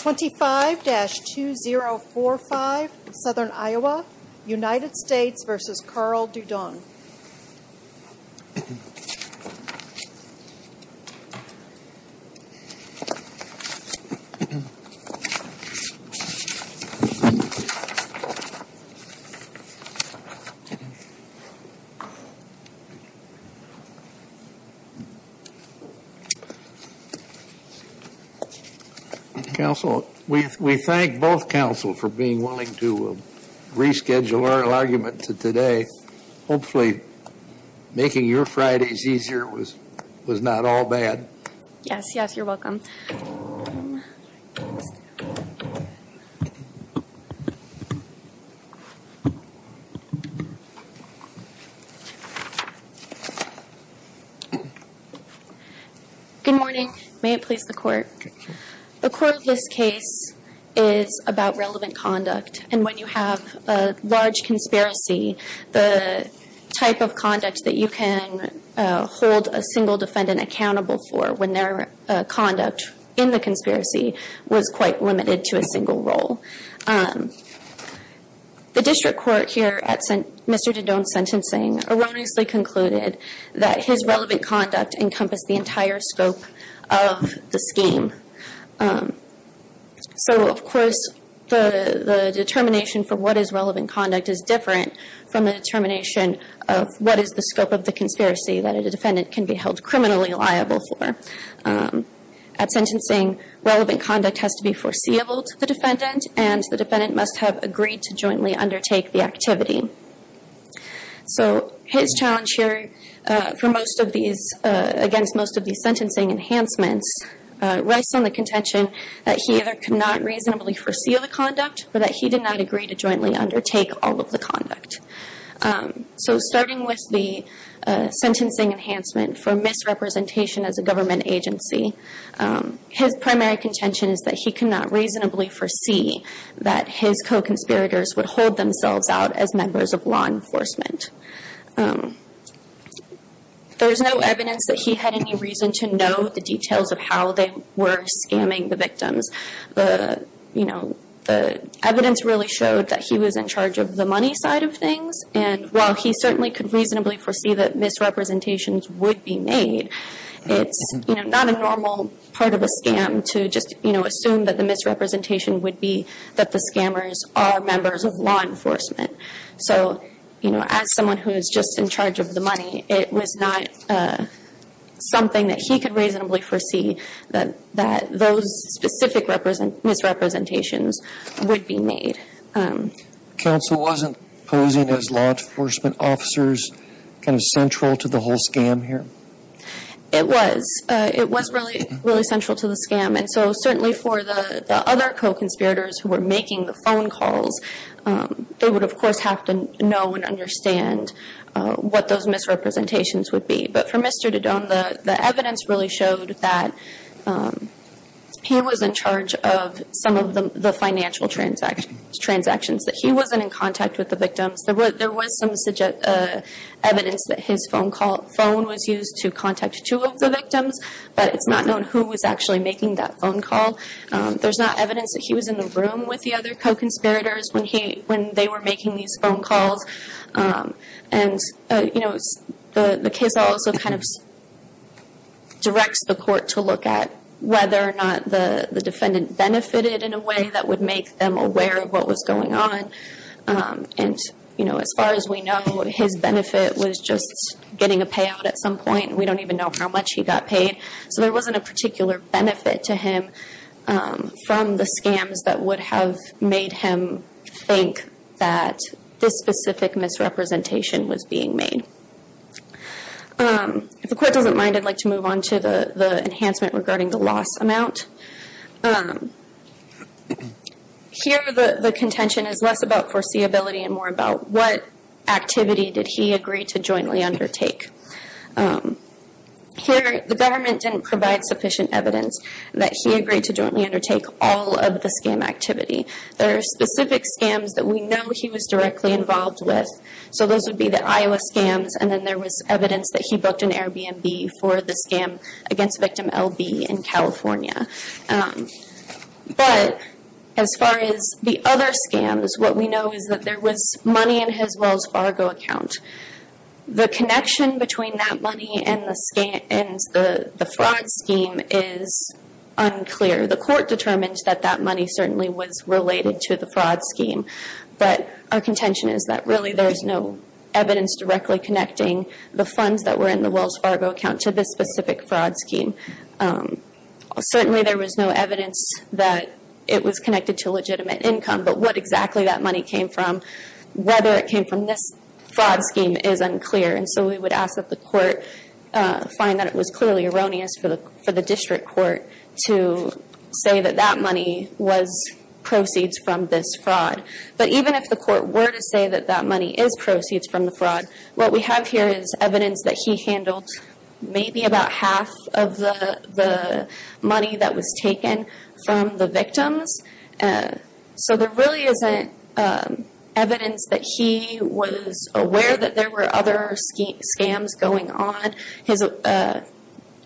25-2045, Southern Iowa, United States v. Karl Dieudonne Council, we thank both Council for being willing to reschedule our argument to today. Hopefully making your Fridays easier was not all bad. Yes, yes, you're welcome. Good morning. May it please the Court. The core of this case is about relevant conduct, and when you have a large conspiracy, the type of conduct that you can hold a single defendant accountable for when their conduct in the conspiracy was quite limited to a single role. The District Court here at Mr. Dieudonne's sentencing erroneously concluded that his relevant conduct encompassed the entire scope of the scheme. So, of course, the determination for what is relevant conduct is different from the determination of what is the scope of the conspiracy that a defendant can be held criminally liable for. At sentencing, relevant conduct has to be foreseeable to the defendant, and the defendant must have agreed to jointly undertake the activity. So his challenge here against most of these sentencing enhancements rests on the contention that he either could not reasonably foresee the conduct, or that he did not agree to jointly undertake all of the conduct. So starting with the sentencing enhancement for misrepresentation as a government agency, his primary contention is that he could not reasonably foresee that his co-conspirators would hold themselves out as members of law enforcement. There is no evidence that he had any reason to know the details of how they were scamming the victims. The evidence really showed that he was in charge of the money side of things, and while he certainly could reasonably foresee that misrepresentations would be made, it's not a normal part of a scam to just assume that the misrepresentation would be that the scammers are members of law enforcement. So as someone who is just in charge of the money, it was not something that he could reasonably foresee that those specific misrepresentations would be made. Counsel wasn't posing as law enforcement officers kind of central to the whole scam here? It was. It was really central to the scam. And so certainly for the other co-conspirators who were making the phone calls, they would of course have to know and understand what those misrepresentations would be. But for Mr. Dedone, the evidence really showed that he was in charge of some of the financial transactions, that he wasn't in contact with the victims. There was some evidence that his phone was used to contact two of the victims, but it's not known who was actually making that phone call. There's not evidence that he was in the room with the other co-conspirators when they were making these phone calls. And the case also kind of directs the court to look at whether or not the defendant benefited in a way that would make them aware of what was going on. And as far as we know, his benefit was just getting a payout at some point. We don't even know how much he got paid. So there wasn't a particular benefit to him from the scams that would have made him think that this specific misrepresentation was being made. If the court doesn't mind, I'd like to move on to the enhancement regarding the loss amount. Here, the contention is less about foreseeability and more about what activity did he agree to jointly undertake. Here, the government didn't provide sufficient evidence that he agreed to jointly undertake all of the scam activity. There are specific scams that we know he was directly involved with. So those would be the Iowa scams, and then there was evidence that he booked an Airbnb for the scam against victim L.B. in California. But as far as the other scams, what we know is that there was money in his Wells Fargo account. The connection between that money and the fraud scheme is unclear. The court determined that that money certainly was related to the fraud scheme. But our contention is that really there's no evidence directly connecting the funds that were in the Wells Fargo account to this specific fraud scheme. Certainly, there was no evidence that it was connected to legitimate income. But what exactly that money came from, whether it came from this fraud scheme, is unclear. And so we would ask that the court find that it was clearly erroneous for the district court to say that that money was proceeds from this fraud. But even if the court were to say that that money is proceeds from the fraud, what we have here is evidence that he handled maybe about half of the money that was taken from the victims. So there really isn't evidence that he was aware that there were other scams going on. His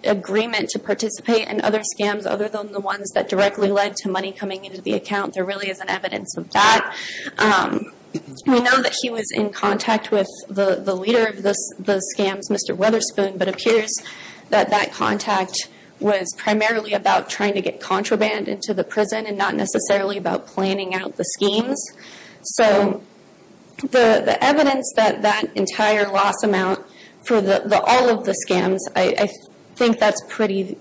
agreement to participate in other scams other than the ones that directly led to money coming into the account, there really isn't evidence of that. We know that he was in contact with the leader of those scams, Mr. Weatherspoon, but it appears that that contact was primarily about trying to get contraband into the prison and not necessarily about planning out the schemes. So the evidence that that entire loss amount for all of the scams, I think that's pretty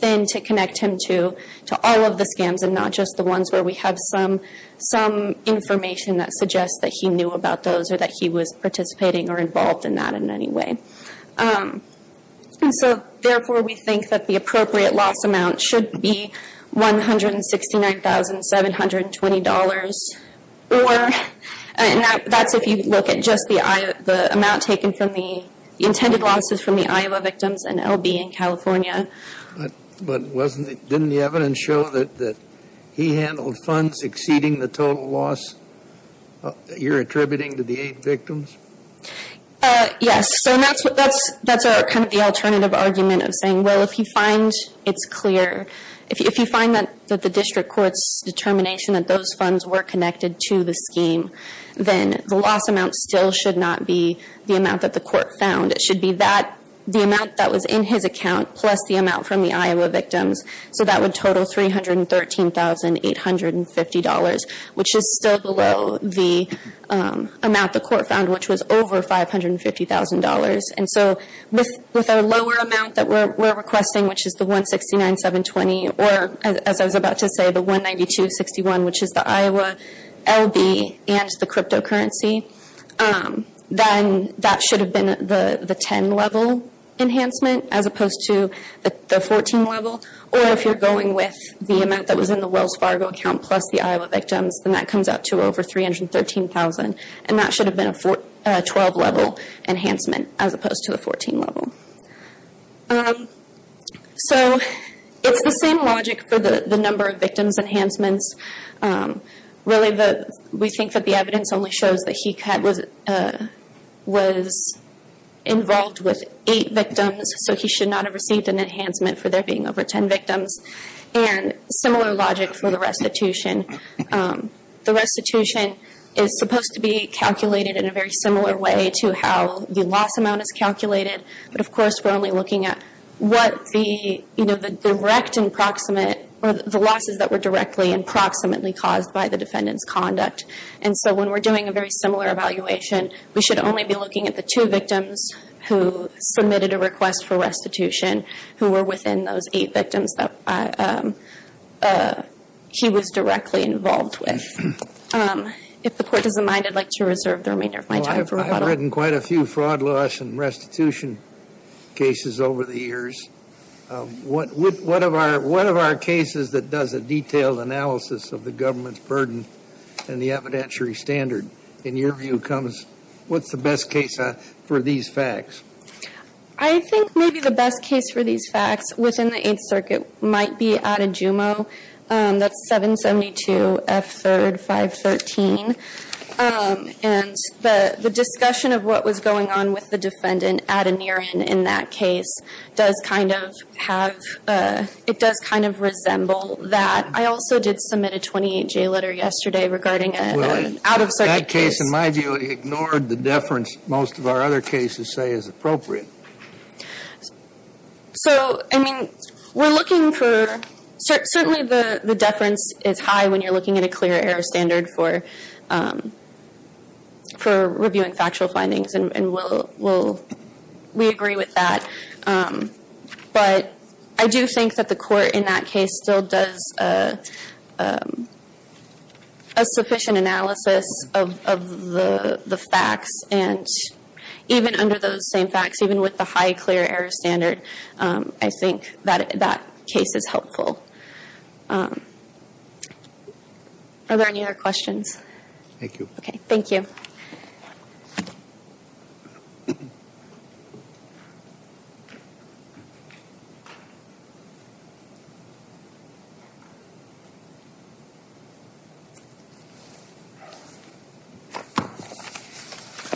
thin to connect him to, to all of the scams and not just the ones where we have some information that suggests that he knew about those or that he was participating or involved in that in any way. So therefore, we think that the appropriate loss amount should be $169,720. That's if you look at just the amount taken from the intended losses from the Iowa victims and L.B. in California. But didn't the evidence show that he handled funds exceeding the total loss you're attributing to the eight victims? Yes. So that's kind of the alternative argument of saying, well, if you find it's clear, if you find that the district court's determination that those funds were connected to the scheme, then the loss amount still should not be the amount that the court found. It should be the amount that was in his account plus the amount from the Iowa victims. So that would total $313,850, which is still below the amount the court found, which was over $550,000. And so with our lower amount that we're requesting, which is the $169,720, or as I was about to say, the $192,061, which is the Iowa L.B. and the cryptocurrency, then that should have been the 10-level enhancement as opposed to the 14-level. Or if you're going with the amount that was in the Wells Fargo account plus the Iowa victims, then that comes out to over $313,000. And that should have been a 12-level enhancement as opposed to a 14-level. So it's the same logic for the number of victims enhancements. Really, we think that the evidence only shows that he was involved with 8 victims, so he should not have received an enhancement for there being over 10 victims. And similar logic for the restitution. The restitution is supposed to be calculated in a very similar way to how the loss amount is calculated, but of course we're only looking at what the direct and proximate or the losses that were directly and proximately caused by the defendant's conduct. And so when we're doing a very similar evaluation, we should only be looking at the two victims who submitted a request for restitution who were within those 8 victims that he was directly involved with. If the Court doesn't mind, I'd like to reserve the remainder of my time for rebuttal. You've written quite a few fraud laws and restitution cases over the years. What of our cases that does a detailed analysis of the government's burden and the evidentiary standard? In your view, what's the best case for these facts? I think maybe the best case for these facts within the Eighth Circuit might be Adujumo. That's 772 F. 3rd, 513. And the discussion of what was going on with the defendant at Aneirin in that case does kind of have – it does kind of resemble that. I also did submit a 28-J letter yesterday regarding an out-of-circuit case. That case, in my view, ignored the deference most of our other cases say is appropriate. So, I mean, we're looking for – certainly the deference is high when you're looking at a clear error standard for reviewing factual findings, and we'll – we agree with that. But I do think that the Court in that case still does a sufficient analysis of the facts, and even under those same facts, even with the high clear error standard, I think that that case is helpful. Are there any other questions? Thank you. Okay. Thank you.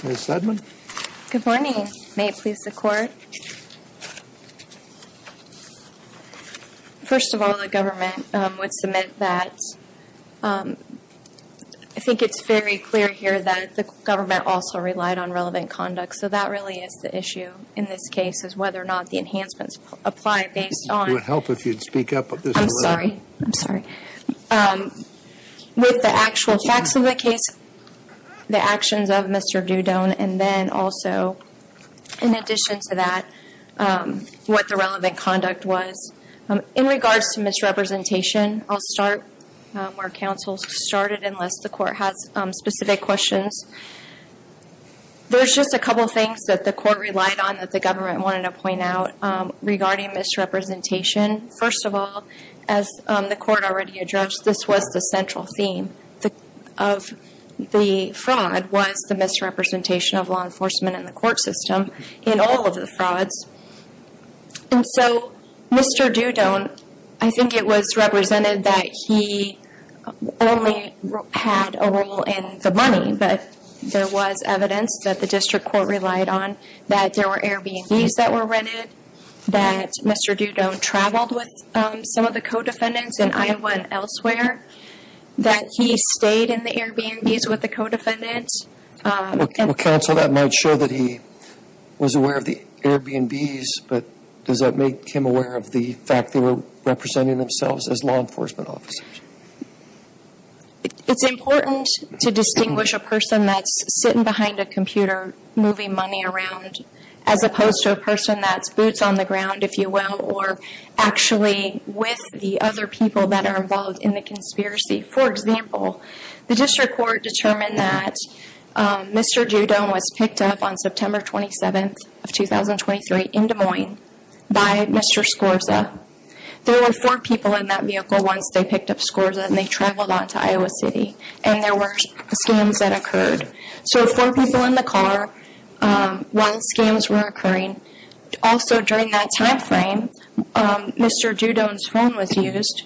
Ms. Sedman? Good morning. May it please the Court? First of all, the government would submit that – I think it's very clear here that the government also relied on relevant conduct, so that really is the issue in this case is whether or not the enhancements apply based on – It would help if you'd speak up at this point. I'm sorry. I'm sorry. With the actual facts of the case, the actions of Mr. Dudone, and then also, in addition to that, what the relevant conduct was. In regards to misrepresentation, I'll start where counsel started unless the Court has specific questions. There's just a couple things that the Court relied on that the government wanted to point out regarding misrepresentation. First of all, as the Court already addressed, this was the central theme of the fraud, was the misrepresentation of law enforcement in the court system in all of the frauds. And so Mr. Dudone, I think it was represented that he only had a role in the money, but there was evidence that the district court relied on that there were Airbnbs that were rented, that Mr. Dudone traveled with some of the co-defendants in Iowa and elsewhere, that he stayed in the Airbnbs with the co-defendants. Well, counsel, that might show that he was aware of the Airbnbs, but does that make him aware of the fact they were representing themselves as law enforcement officers? It's important to distinguish a person that's sitting behind a computer moving money around as opposed to a person that's boots on the ground, if you will, or actually with the other people that are involved in the conspiracy. For example, the district court determined that Mr. Dudone was picked up on September 27th of 2023 in Des Moines by Mr. Scorza. There were four people in that vehicle once they picked up Scorza, and they traveled on to Iowa City, and there were scams that occurred. So four people in the car once scams were occurring. Also during that time frame, Mr. Dudone's phone was used,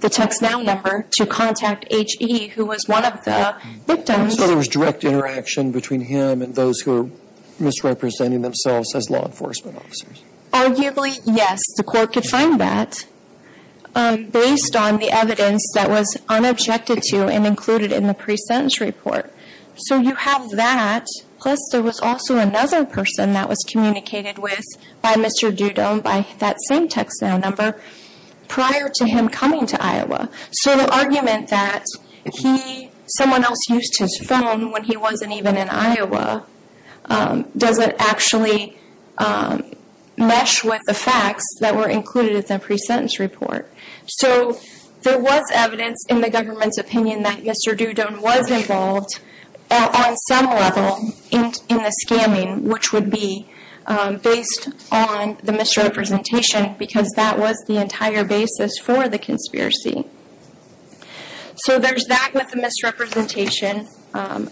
the TextNow number, to contact H.E., who was one of the victims. So there was direct interaction between him and those who were misrepresenting themselves as law enforcement officers? Arguably, yes. The court could find that based on the evidence that was unobjected to and included in the pre-sentence report. So you have that, plus there was also another person that was communicated with by Mr. Dudone, by that same TextNow number, prior to him coming to Iowa. So the argument that someone else used his phone when he wasn't even in Iowa doesn't actually mesh with the facts that were included in the pre-sentence report. So there was evidence in the government's opinion that Mr. Dudone was involved on some level in the scamming, which would be based on the misrepresentation because that was the entire basis for the conspiracy. So there's that with the misrepresentation, and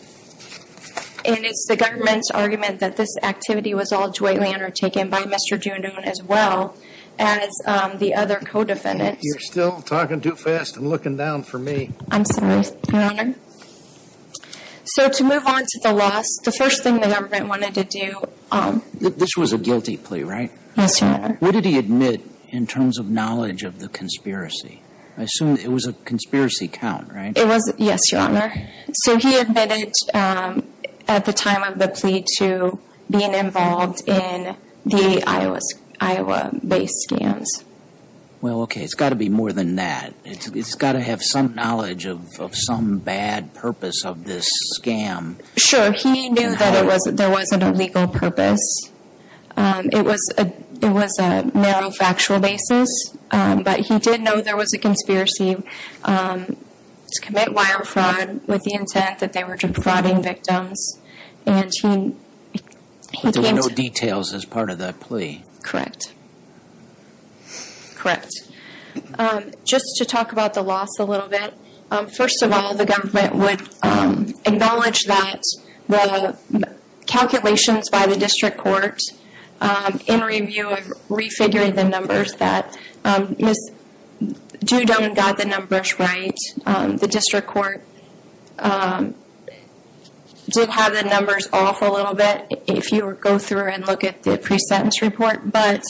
it's the government's argument that this activity was all jointly undertaken by Mr. Dudone as well as the other co-defendants. You're still talking too fast and looking down for me. I'm sorry, Your Honor. So to move on to the last, the first thing the government wanted to do. This was a guilty plea, right? Yes, Your Honor. What did he admit in terms of knowledge of the conspiracy? I assume it was a conspiracy count, right? Yes, Your Honor. So he admitted at the time of the plea to being involved in the Iowa-based scams. Well, okay, it's got to be more than that. It's got to have some knowledge of some bad purpose of this scam. Sure. He knew that there wasn't a legal purpose. It was a narrow factual basis. But he did know there was a conspiracy to commit wire fraud with the intent that they were defrauding victims. And he came to… There were no details as part of that plea. Correct. Correct. Just to talk about the loss a little bit. First of all, the government would acknowledge that the calculations by the district court in review of refiguring the numbers that do and don't got the numbers right. The district court did have the numbers off a little bit if you go through and look at the pre-sentence report. But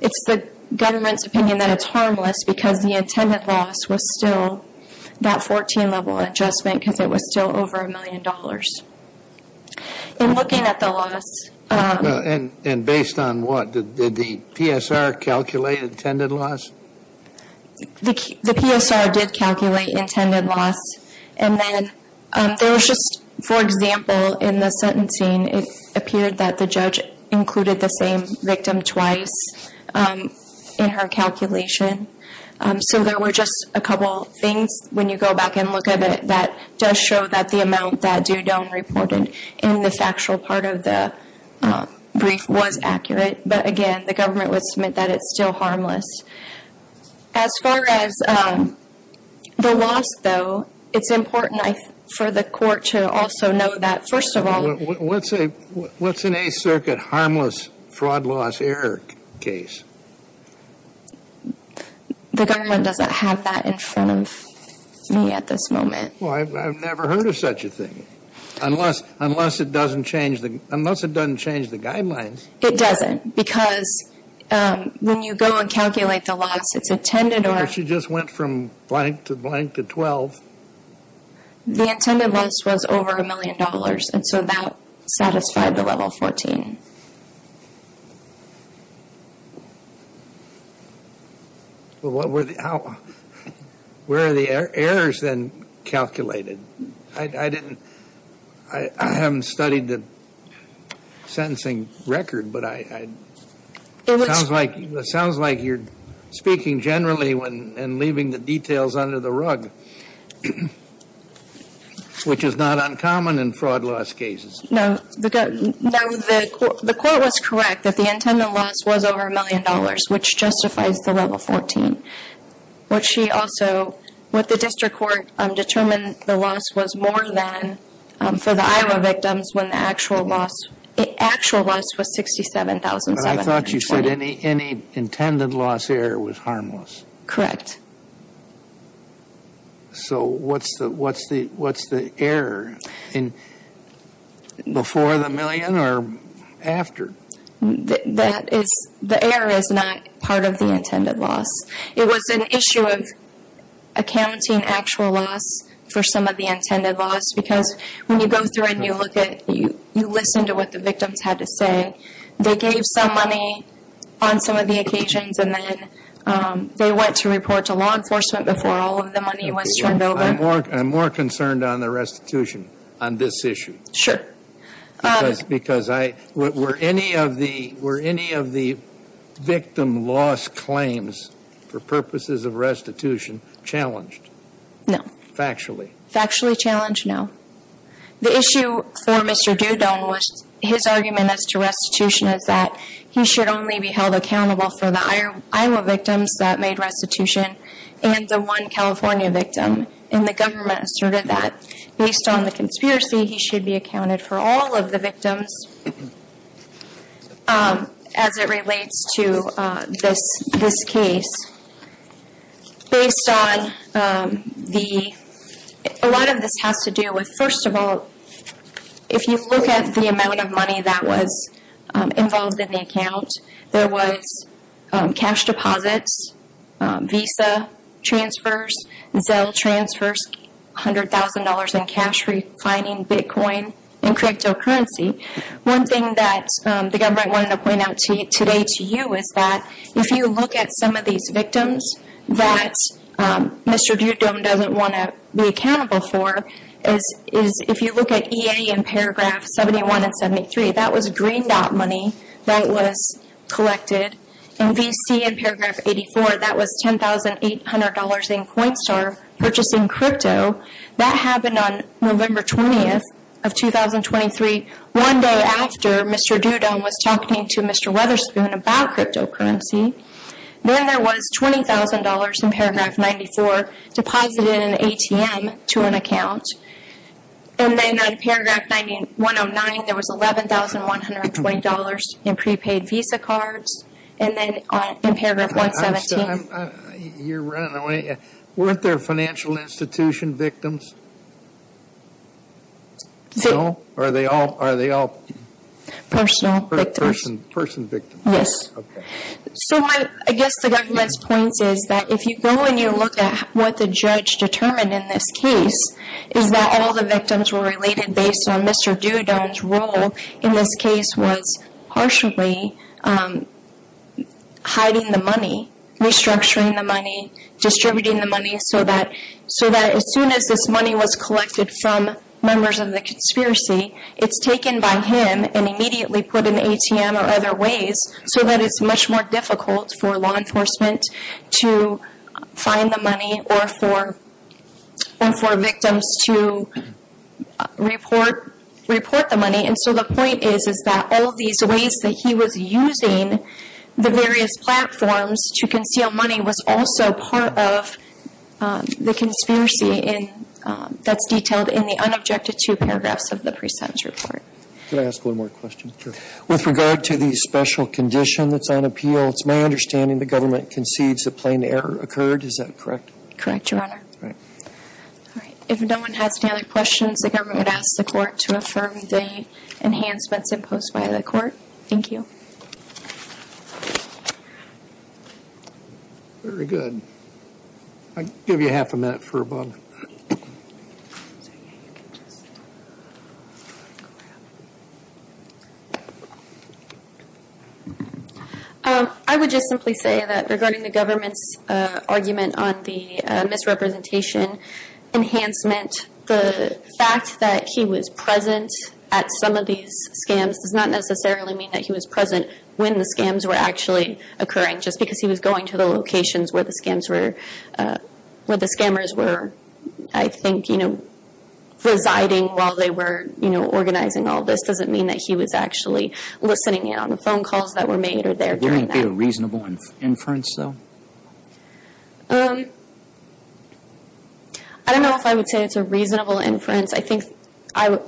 it's the government's opinion that it's harmless because the intended loss was still that 14-level adjustment because it was still over a million dollars. In looking at the loss… And based on what? Did the PSR calculate intended loss? The PSR did calculate intended loss. And then there was just, for example, in the sentencing, it appeared that the judge included the same victim twice in her calculation. So there were just a couple things when you go back and look at it that does show that the amount that do-don't reported in the factual part of the brief was accurate. But again, the government would submit that it's still harmless. As far as the loss, though, it's important for the court to also know that, first of all… What's an 8th Circuit harmless fraud loss error case? The government doesn't have that in front of me at this moment. Well, I've never heard of such a thing. Unless it doesn't change the guidelines. It doesn't because when you go and calculate the loss, it's intended or… Or she just went from blank to blank to 12. The intended loss was over a million dollars. And so that satisfied the level 14. Well, what were the… Where are the errors then calculated? I didn't… I haven't studied the sentencing record, but I… It sounds like you're speaking generally and leaving the details under the rug. Which is not uncommon in fraud loss cases. No, the court was correct that the intended loss was over a million dollars, which justifies the level 14. What she also… What the district court determined the loss was more than for the Iowa victims when the actual loss was $67,720. But I thought you said any intended loss error was harmless. Correct. So what's the error? Before the million or after? That is… The error is not part of the intended loss. It was an issue of accounting actual loss for some of the intended loss. Because when you go through and you look at… You listen to what the victims had to say. They gave some money on some of the occasions and then they went to report to law enforcement before all of the money was turned over. I'm more concerned on the restitution on this issue. Because I… Were any of the victim loss claims for purposes of restitution challenged? No. Factually? Factually challenged, no. The issue for Mr. Doudon was his argument as to restitution is that he should only be held accountable for the Iowa victims that made restitution and the one California victim. And the government asserted that based on the conspiracy, he should be accounted for all of the victims as it relates to this case. Based on the… A lot of this has to do with, first of all, if you look at the amount of money that was involved in the account, there was cash deposits, Visa transfers, Zelle transfers, $100,000 in cash refining, Bitcoin, and cryptocurrency. One thing that the government wanted to point out today to you is that if you look at some of these victims that Mr. Doudon doesn't want to be accountable for, is if you look at EA in paragraph 71 and 73, that was green dot money that was collected. In VC in paragraph 84, that was $10,800 in CoinStar purchasing crypto. That happened on November 20th of 2023, one day after Mr. Doudon was talking to Mr. Weatherspoon about cryptocurrency. Then there was $20,000 in paragraph 94 deposited in an ATM to an account. And then on paragraph 109, there was $11,120 in prepaid Visa cards. And then in paragraph 117… You're running away. Weren't there financial institution victims? No? Or are they all… Personal victims. Person victims. Yes. Okay. So I guess the government's point is that if you go and you look at what the judge determined in this case, is that all the victims were related based on Mr. Doudon's role in this case was partially hiding the money, restructuring the money, distributing the money so that as soon as this money was collected from members of the conspiracy, it's taken by him and immediately put in an ATM or other ways so that it's much more difficult for law enforcement to find the money or for victims to report the money. And so the point is that all these ways that he was using the various platforms to conceal money was also part of the conspiracy that's detailed in the unobjected two paragraphs of the pre-sentence report. Can I ask one more question? Sure. With regard to the special condition that's on appeal, it's my understanding the government concedes a plain error occurred. Is that correct? Correct, Your Honor. All right. If no one has any other questions, the government would ask the court to affirm the enhancements imposed by the court. Thank you. Very good. I'll give you half a minute for above. I would just simply say that regarding the government's argument on the misrepresentation enhancement, the fact that he was present at some of these scams does not necessarily mean that he was present when the scams were actually occurring just because he was going to the locations where the scammers were, I think, residing while they were organizing all this doesn't mean that he was actually listening in on the phone calls that were made or there during that. Wouldn't it be a reasonable inference, though? I don't know if I would say it's a reasonable inference. I think our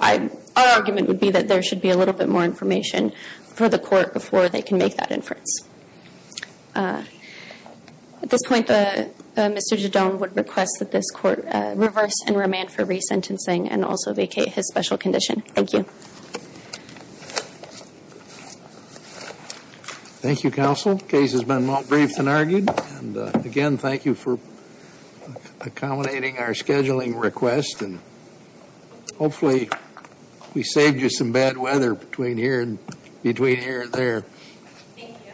argument would be that there should be a little bit more information for the court before they can make that inference. At this point, Mr. Judone would request that this court reverse and remand for resentencing and also vacate his special condition. Thank you. Thank you, counsel. The case has been well-briefed and argued. Again, thank you for accommodating our scheduling request. Hopefully we saved you some bad weather between here and there. Thank you.